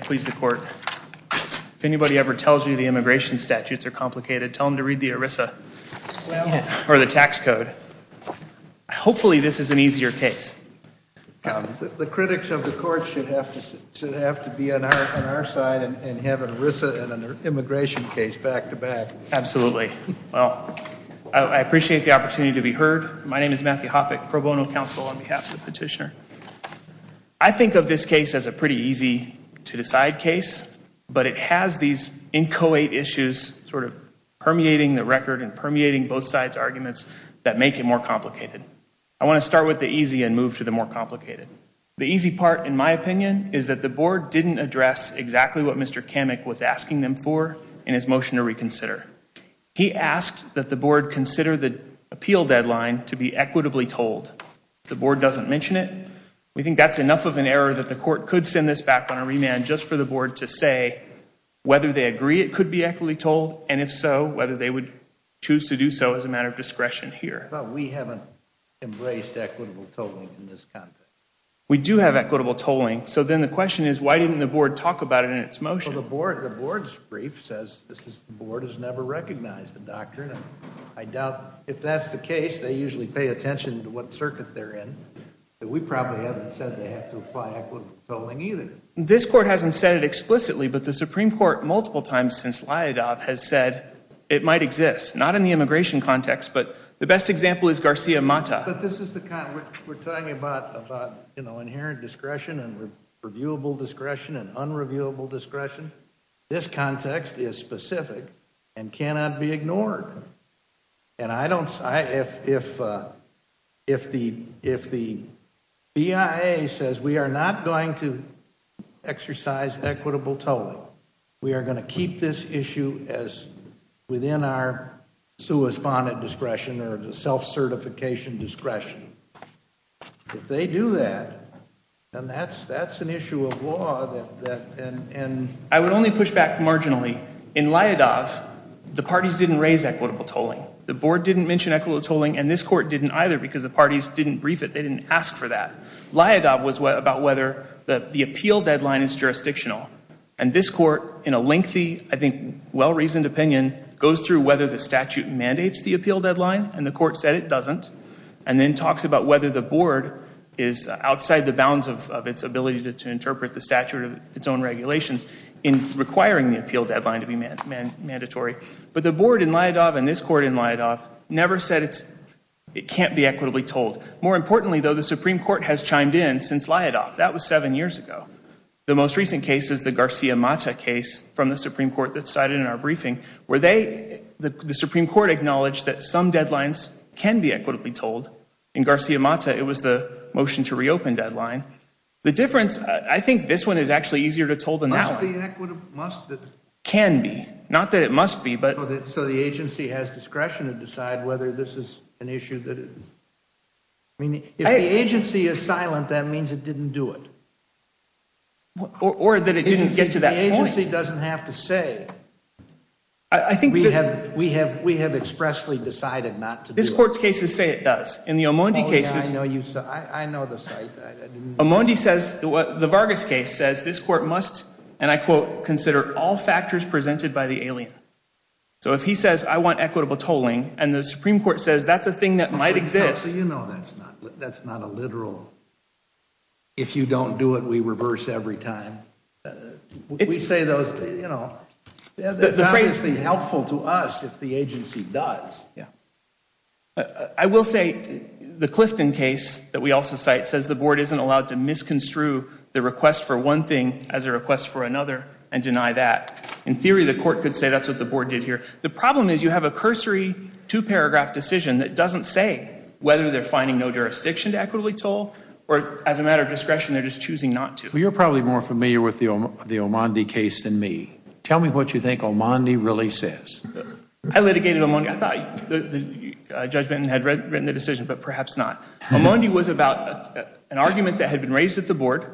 Please the court. If anybody ever tells you the immigration statutes are complicated, tell them to read the ERISA or the tax code. Hopefully this is an easier case. The critics of the court should have to be on our side and have an ERISA and an immigration case back-to-back. Absolutely. Well, I appreciate the opportunity to be heard. My name is Matthew Hoppeck, pro bono counsel on behalf of the petitioner. I think of this case as a pretty easy to decide case, but it has these inchoate issues sort of permeating the record and permeating both sides' arguments that make it more complicated. I want to start with the easy and move to the more complicated. The easy part, in my opinion, is that the board didn't address exactly what Mr. Camick was asking them for in his motion to reconsider. He asked that the board consider the appeal deadline to be equitably told. If the board doesn't mention it, we think that's enough of an error that the court could send this back on a remand just for the board to say whether they agree it could be equitably told, and if so, whether they would choose to do so as a matter of discretion here. But we haven't embraced equitable tolling in this context. We do have equitable tolling. So then the question is, why didn't the board talk about it in its motion? Well, the board's brief says the board has never recognized the doctrine. I doubt if that's the case. They usually pay attention to what circuit they're in. We probably haven't said they have to apply equitable tolling either. This court hasn't said it explicitly, but the Supreme Court multiple times since Lyadov has said it might exist. Not in the immigration context, but the best example is Garcia-Mata. We're talking about inherent discretion and reviewable discretion and unreviewable discretion. This context is specific and cannot be ignored. And if the BIA says we are not going to exercise equitable tolling, we are going to keep this issue within our correspondent discretion or self-certification discretion, if they do that, then that's an issue of law. I would only push back marginally. In Lyadov, the parties didn't raise equitable tolling. The board didn't mention equitable tolling, and this court didn't either because the parties didn't brief it. They didn't ask for that. Lyadov was about whether the appeal deadline is jurisdictional. And this court, in a lengthy, I think well-reasoned opinion, goes through whether the statute mandates the appeal deadline, and the court said it doesn't, and then talks about whether the board is outside the bounds of its ability to interpret the statute of its own regulations in requiring the appeal deadline to be mandatory. But the board in Lyadov and this court in Lyadov never said it can't be equitably tolled. More importantly, though, the Supreme Court has chimed in since Lyadov. That was seven years ago. The most recent case is the Garcia-Mata case from the Supreme Court that's cited in our briefing, where the Supreme Court acknowledged that some deadlines can be equitably tolled. In Garcia-Mata, it was the motion to reopen deadline. The difference, I think this one is actually easier to toll than that one. Must it be equitable? Can be. Not that it must be, but So the agency has discretion to decide whether this is an issue that it If the agency is silent, that means it didn't do it. Or that it didn't get to that point. If the agency doesn't have to say, we have expressly decided not to do it. This court's cases say it does. In the Amondi cases Oh yeah, I know the site. Amondi says, the Vargas case says this court must, and I quote, consider all factors presented by the alien. So if he says, I want equitable tolling, and the Supreme Court says that's a thing that might exist. You know, that's not a literal, if you don't do it, we reverse every time. We say those, you know, that's obviously helpful to us if the agency does. I will say the Clifton case that we also cite says the board isn't allowed to misconstrue the request for one thing as a request for another and deny that. In theory, the court could say that's what the board did here. The problem is you have a cursory two-paragraph decision that doesn't say whether they're finding no jurisdiction to equitably toll. Or as a matter of discretion, they're just choosing not to. Well, you're probably more familiar with the Amondi case than me. Tell me what you think Amondi really says. I litigated Amondi. I thought Judge Benton had written the decision, but perhaps not. Amondi was about an argument that had been raised at the board,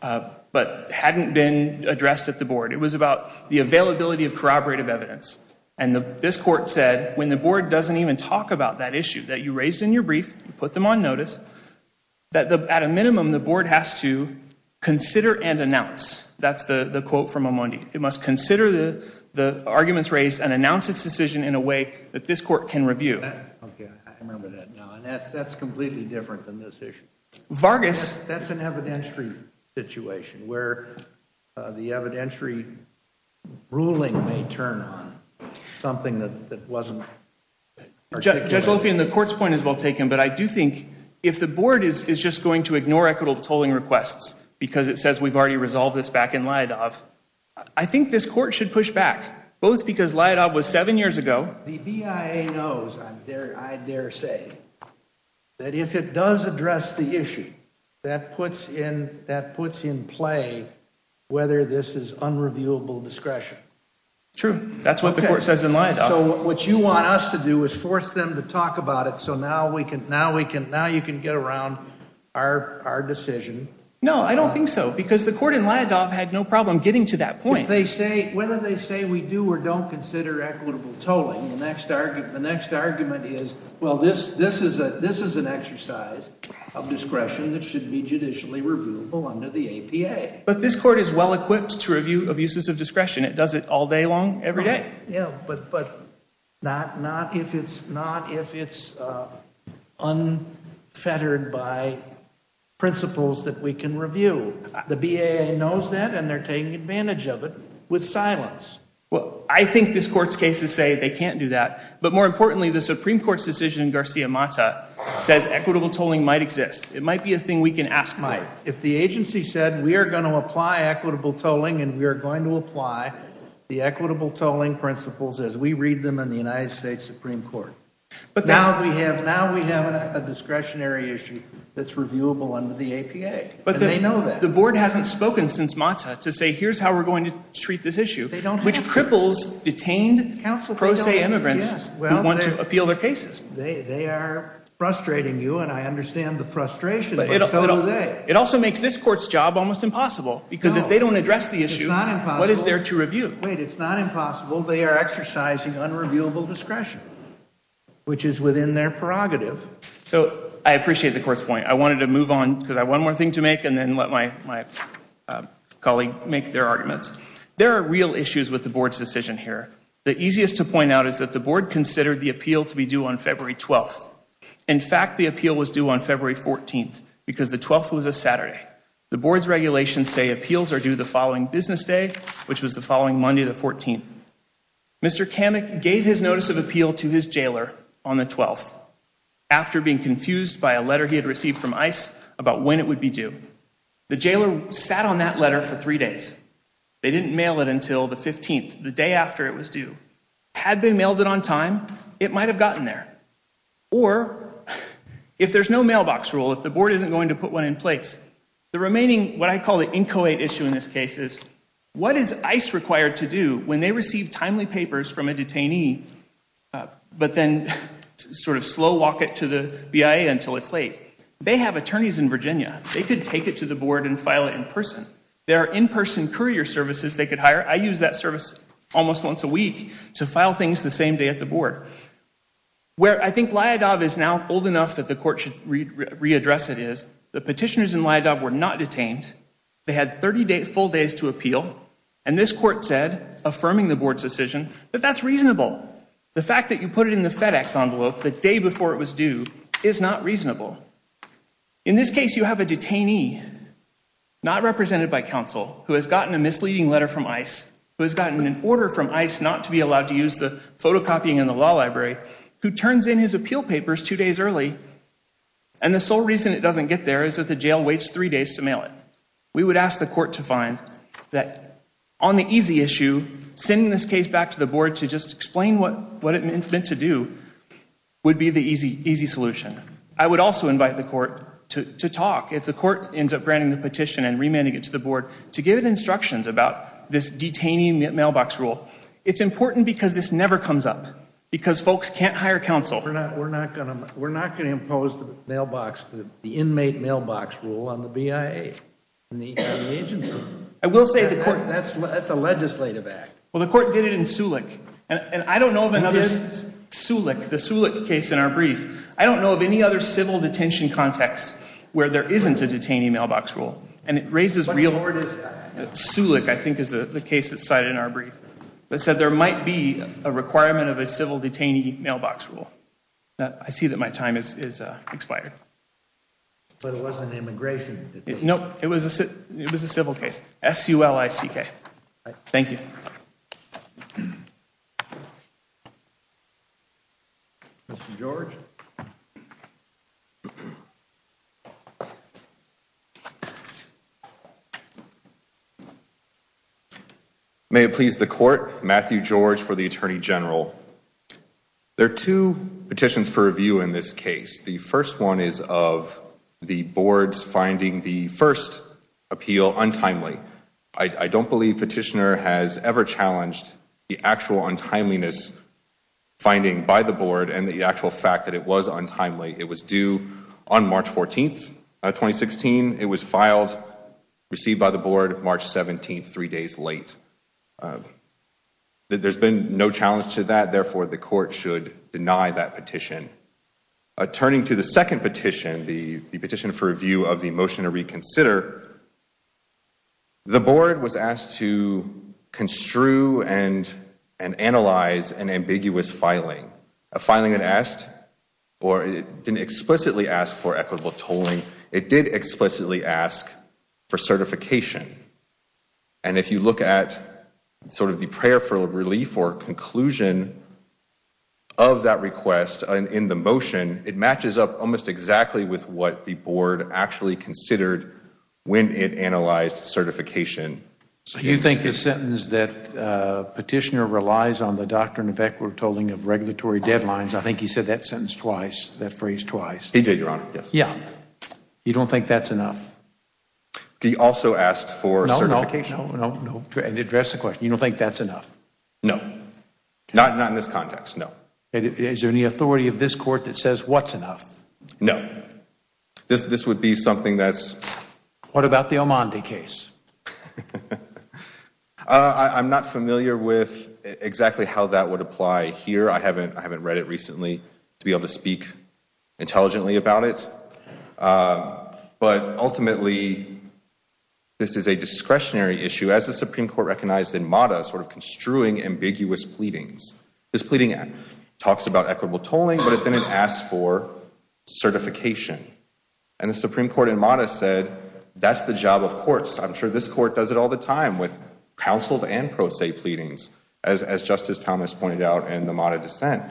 but hadn't been addressed at the board. It was about the availability of corroborative evidence. And this court said when the board doesn't even talk about that issue that you raised in your brief, you put them on notice, that at a minimum the board has to consider and announce. That's the quote from Amondi. It must consider the arguments raised and announce its decision in a way that this court can review. Okay, I remember that now. And that's completely different than this issue. That's an evidentiary situation where the evidentiary ruling may turn on something that wasn't articulated. Judge Lopian, the court's point is well taken, but I do think if the board is just going to ignore equitable tolling requests because it says we've already resolved this back in Leidov, I think this court should push back. Both because Leidov was seven years ago. The BIA knows, I dare say, that if it does address the issue, that puts in play whether this is unreviewable discretion. True. That's what the court says in Leidov. So what you want us to do is force them to talk about it so now you can get around our decision. No, I don't think so because the court in Leidov had no problem getting to that point. Whether they say we do or don't consider equitable tolling, the next argument is, well, this is an exercise of discretion that should be judicially reviewable under the APA. But this court is well equipped to review abuses of discretion. It does it all day long, every day. Yeah, but not if it's unfettered by principles that we can review. The BIA knows that and they're taking advantage of it with silence. Well, I think this court's cases say they can't do that. But more importantly, the Supreme Court's decision in Garcia-Mata says equitable tolling might exist. It might be a thing we can ask for. It might. If the agency said we are going to apply equitable tolling and we are going to apply the equitable tolling principles as we read them in the United States Supreme Court. Now we have a discretionary issue that's reviewable under the APA. But the board hasn't spoken since Mata to say here's how we're going to treat this issue, which cripples detained pro se immigrants who want to appeal their cases. They are frustrating you and I understand the frustration, but so are they. It also makes this court's job almost impossible because if they don't address the issue, what is there to review? Wait, it's not impossible. They are exercising unreviewable discretion, which is within their prerogative. So I appreciate the court's point. I wanted to move on because I have one more thing to make and then let my colleague make their arguments. There are real issues with the board's decision here. The easiest to point out is that the board considered the appeal to be due on February 12th. In fact, the appeal was due on February 14th because the 12th was a Saturday. The board's regulations say appeals are due the following business day, which was the following Monday the 14th. Mr. Kamek gave his notice of appeal to his jailer on the 12th after being confused by a letter he had received from ICE about when it would be due. The jailer sat on that letter for three days. They didn't mail it until the 15th, the day after it was due. Had they mailed it on time, it might have gotten there. Or if there's no mailbox rule, if the board isn't going to put one in place, the remaining what I call the inchoate issue in this case is what is ICE required to do when they receive timely papers from a detainee but then sort of slow walk it to the BIA until it's late? They have attorneys in Virginia. They could take it to the board and file it in person. There are in-person courier services they could hire. I use that service almost once a week to file things the same day at the board. Where I think Lyadov is now old enough that the court should readdress it is the petitioners in Lyadov were not detained. They had 30 full days to appeal. And this court said, affirming the board's decision, that that's reasonable. The fact that you put it in the FedEx envelope the day before it was due is not reasonable. In this case, you have a detainee, not represented by counsel, who has gotten a misleading letter from ICE, who has gotten an order from ICE not to be allowed to use the photocopying in the law library, who turns in his appeal papers two days early. And the sole reason it doesn't get there is that the jail waits three days to mail it. We would ask the court to find that on the easy issue, sending this case back to the board to just explain what it meant to do would be the easy solution. I would also invite the court to talk, if the court ends up granting the petition and remanding it to the board, to give instructions about this detaining mailbox rule. It's important because this never comes up, because folks can't hire counsel. We're not going to impose the mailbox, the inmate mailbox rule on the BIA and the agency. I will say the court That's a legislative act. Well, the court did it in Sulik. And I don't know of another Sulik, the Sulik case in our brief. I don't know of any other civil detention context where there isn't a detainee mailbox rule. And it raises real What court is that? Sulik, I think, is the case that's cited in our brief. That said, there might be a requirement of a civil detainee mailbox rule. I see that my time has expired. But it wasn't immigration? No, it was a civil case. S-U-L-I-C-K. Thank you. Thank you. Mr. George. May it please the court. Matthew George for the Attorney General. There are two petitions for review in this case. The first one is of the board's finding the first appeal untimely. I don't believe petitioner has ever challenged the actual untimeliness finding by the board and the actual fact that it was untimely. It was due on March 14th, 2016. It was filed, received by the board March 17th, three days late. There's been no challenge to that. Therefore, the court should deny that petition. Turning to the second petition, the petition for review of the motion to reconsider, the board was asked to construe and analyze an ambiguous filing. A filing that asked or didn't explicitly ask for equitable tolling. It did explicitly ask for certification. And if you look at sort of the prayer for relief or conclusion of that request in the motion, it matches up almost exactly with what the board actually considered when it analyzed certification. So you think the sentence that petitioner relies on the doctrine of equitable tolling of regulatory deadlines, I think he said that sentence twice, that phrase twice. He did, Your Honor, yes. Yeah. You don't think that's enough? He also asked for certification. No, no, no. Address the question. You don't think that's enough? No. Not in this context, no. Is there any authority of this court that says what's enough? No. This would be something that's... What about the Amandi case? I'm not familiar with exactly how that would apply here. I haven't read it recently to be able to speak intelligently about it. But ultimately, this is a discretionary issue, as the Supreme Court recognized in Mata, sort of construing ambiguous pleadings. This pleading talks about equitable tolling, but it then asks for certification. And the Supreme Court in Mata said that's the job of courts. I'm sure this court does it all the time with counseled and pro se pleadings, as Justice Thomas pointed out in the Mata dissent.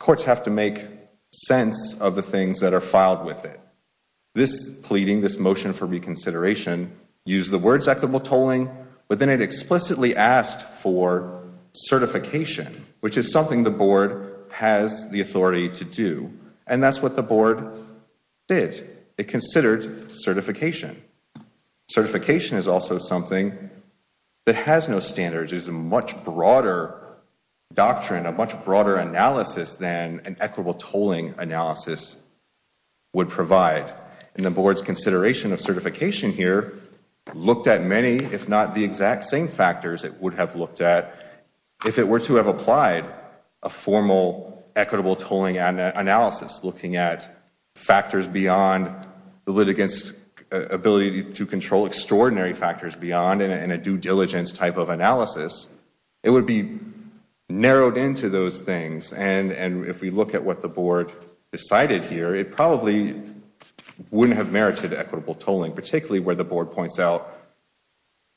Courts have to make sense of the things that are filed with it. This pleading, this motion for reconsideration, used the words equitable tolling, but then it explicitly asked for certification, which is something the board has the authority to do. And that's what the board did. It considered certification. Certification is also something that has no standards. It's a much broader doctrine, a much broader analysis than an equitable tolling analysis would provide. And the board's consideration of certification here looked at many, if not the exact same factors it would have looked at if it were to have applied a formal equitable tolling analysis, looking at factors beyond the litigant's ability to control extraordinary factors beyond in a due diligence type of analysis. It would be narrowed into those things. And if we look at what the board decided here, it probably wouldn't have merited equitable tolling, particularly where the board points out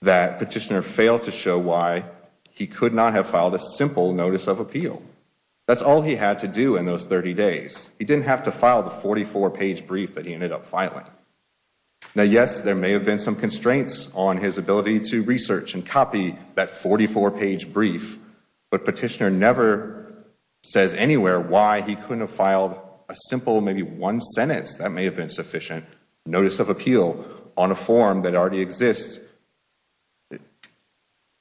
that Petitioner failed to show why he could not have filed a simple notice of appeal. That's all he had to do in those 30 days. He didn't have to file the 44-page brief that he ended up filing. Now, yes, there may have been some constraints on his ability to research and copy that 44-page brief, but Petitioner never says anywhere why he couldn't have filed a simple, maybe one sentence that may have been sufficient, notice of appeal on a form that already exists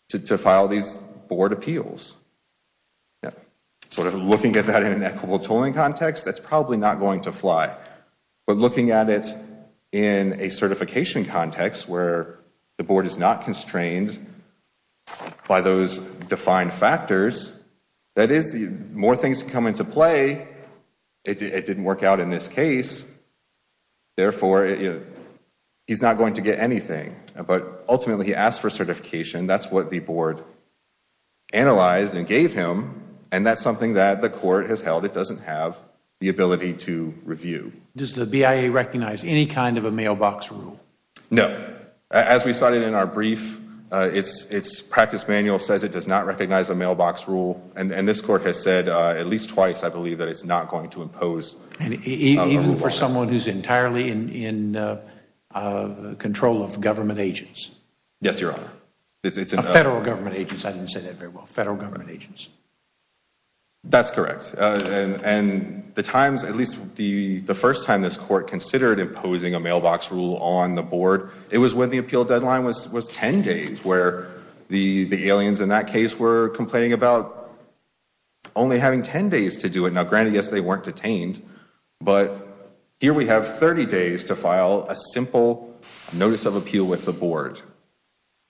to file these board appeals. Sort of looking at that in an equitable tolling context, that's probably not going to fly. But looking at it in a certification context where the board is not constrained by those defined factors, that is, the more things come into play, it didn't work out in this case, therefore, he's not going to get anything. But ultimately, he asked for certification. That's what the board analyzed and gave him, and that's something that the court has held it doesn't have the ability to review. Does the BIA recognize any kind of a mailbox rule? No. As we cited in our brief, its practice manual says it does not recognize a mailbox rule, and this court has said at least twice, I believe, that it's not going to impose a rule on it. Even for someone who's entirely in control of government agents? Yes, Your Honor. Federal government agents. I didn't say that very well. Federal government agents. That's correct. And the times, at least the first time this court considered imposing a mailbox rule on the board, it was when the appeal deadline was 10 days, where the aliens in that case were complaining about only having 10 days to do it. Now, granted, yes, they weren't detained, but here we have 30 days to file a simple notice of appeal with the board.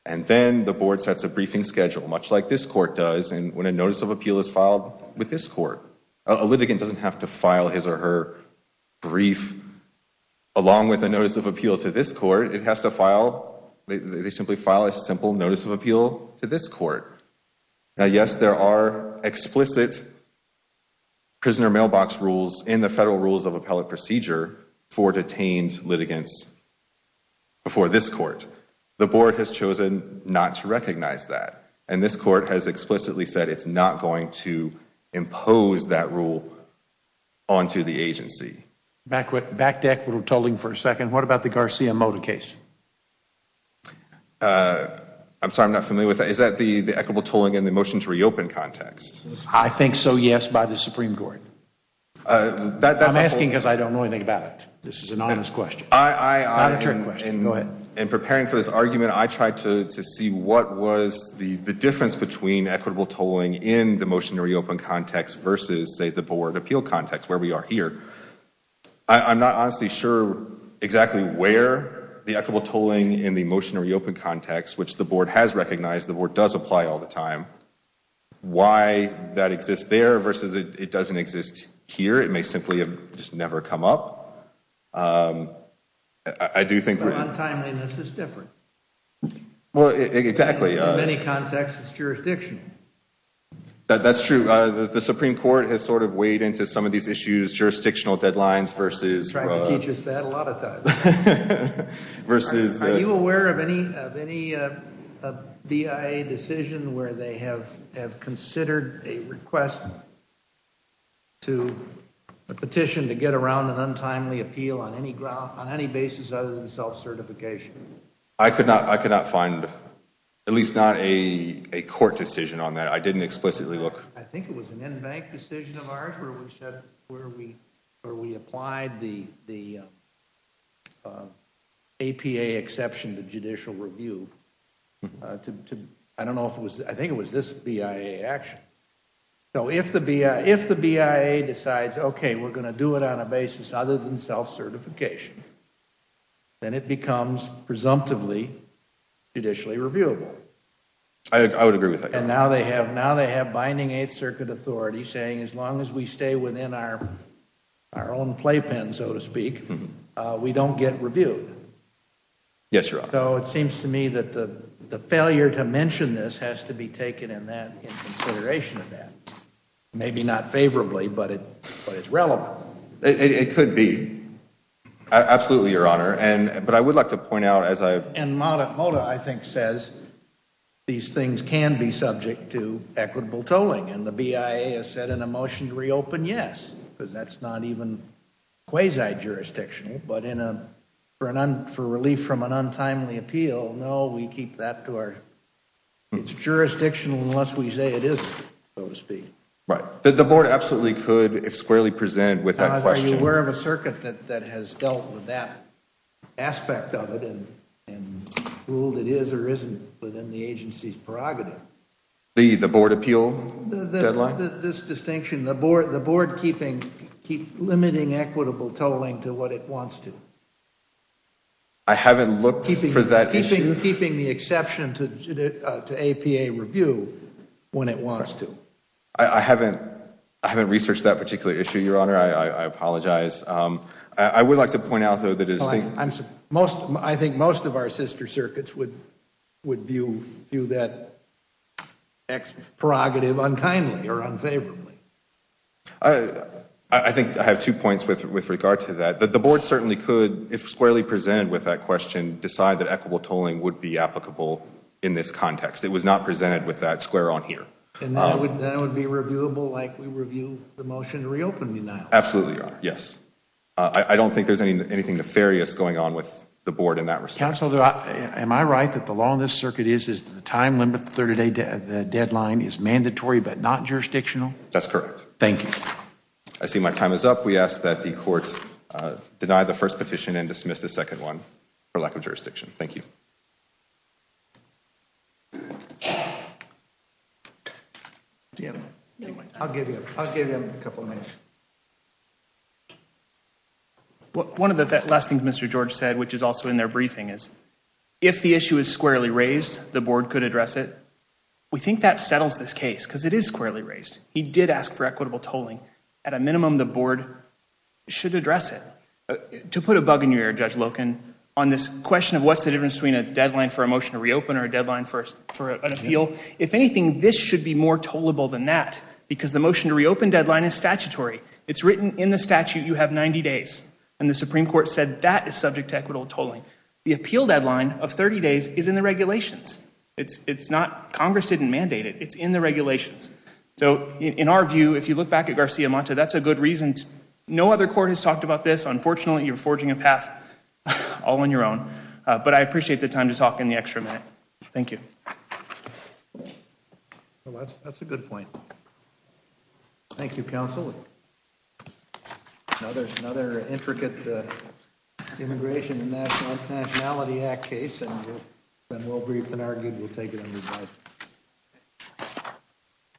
And then the board sets a briefing schedule, much like this court does when a notice of appeal is filed with this court. A litigant doesn't have to file his or her brief along with a notice of appeal to this court. It has to file, they simply file a simple notice of appeal to this court. Now, yes, there are explicit prisoner mailbox rules in the federal rules of appellate procedure for detained litigants before this court. The board has chosen not to recognize that. And this court has explicitly said it's not going to impose that rule onto the agency. Back to equitable tolling for a second. What about the Garcia-Mota case? I'm sorry, I'm not familiar with that. Is that the equitable tolling in the motion to reopen context? I think so, yes, by the Supreme Court. I'm asking because I don't know anything about it. This is an honest question. Not a trick question. Go ahead. In preparing for this argument, I tried to see what was the difference between equitable tolling in the motion to reopen context versus, say, the board appeal context, where we are here. I'm not honestly sure exactly where the equitable tolling in the motion to reopen context, which the board has recognized, the board does apply all the time, why that exists there versus it doesn't exist here. It may simply have just never come up. I do think the untimeliness is different. Well, exactly. In many contexts, it's jurisdictional. That's true. The Supreme Court has sort of weighed into some of these issues, jurisdictional deadlines versus. They try to teach us that a lot of times. Are you aware of any BIA decision where they have considered a request to a petition to get around an untimely appeal on any basis other than self-certification? I could not find, at least not a court decision on that. I didn't explicitly look. I think it was an in-bank decision of ours where we applied the APA exception to judicial review. I think it was this BIA action. If the BIA decides, okay, we're going to do it on a basis other than self-certification, then it becomes presumptively judicially reviewable. I would agree with that. Now they have binding Eighth Circuit authority saying as long as we stay within our own playpen, so to speak, we don't get reviewed. Yes, Your Honor. So it seems to me that the failure to mention this has to be taken in consideration of that. Maybe not favorably, but it's relevant. It could be. Absolutely, Your Honor. And Moda, I think, says these things can be subject to equitable tolling. And the BIA has said in a motion to reopen, yes, because that's not even quasi-jurisdictional. But for relief from an untimely appeal, no, we keep that to our – it's jurisdictional unless we say it isn't, so to speak. The Board absolutely could squarely present with that question. I'm aware of a circuit that has dealt with that aspect of it and ruled it is or isn't within the agency's prerogative. The Board appeal deadline? This distinction, the Board limiting equitable tolling to what it wants to. I haven't looked for that issue. Keeping the exception to APA review when it wants to. I haven't researched that particular issue, Your Honor. I apologize. I would like to point out, though, that – I think most of our sister circuits would view that prerogative unkindly or unfavorably. I think I have two points with regard to that. The Board certainly could, if squarely presented with that question, decide that equitable tolling would be applicable in this context. It was not presented with that square on here. And that would be reviewable like we review the motion to reopen denial? Absolutely, Your Honor. Yes. I don't think there's anything nefarious going on with the Board in that respect. Counselor, am I right that the law in this circuit is that the time limit, the 30-day deadline, is mandatory but not jurisdictional? That's correct. Thank you. I see my time is up. We ask that the Court deny the first petition and dismiss the second one for lack of jurisdiction. Thank you. I'll give you a couple minutes. One of the last things Mr. George said, which is also in their briefing, is if the issue is squarely raised, the Board could address it. We think that settles this case because it is squarely raised. He did ask for equitable tolling. At a minimum, the Board should address it. To put a bug in your ear, Judge Loken, on this question of what's the difference between a deadline for a motion to reopen or a deadline for an appeal, if anything, this should be more tollable than that because the motion to reopen deadline is statutory. It's written in the statute you have 90 days. And the Supreme Court said that is subject to equitable tolling. The appeal deadline of 30 days is in the regulations. Congress didn't mandate it. It's in the regulations. In our view, if you look back at Garcia Monta, that's a good reason. No other court has talked about this. Unfortunately, you're forging a path all on your own. But I appreciate the time to talk and the extra minute. Thank you. That's a good point. Thank you, Counsel. Another intricate Immigration and Nationality Act case. It's been well-briefed and argued. We'll take it under the light.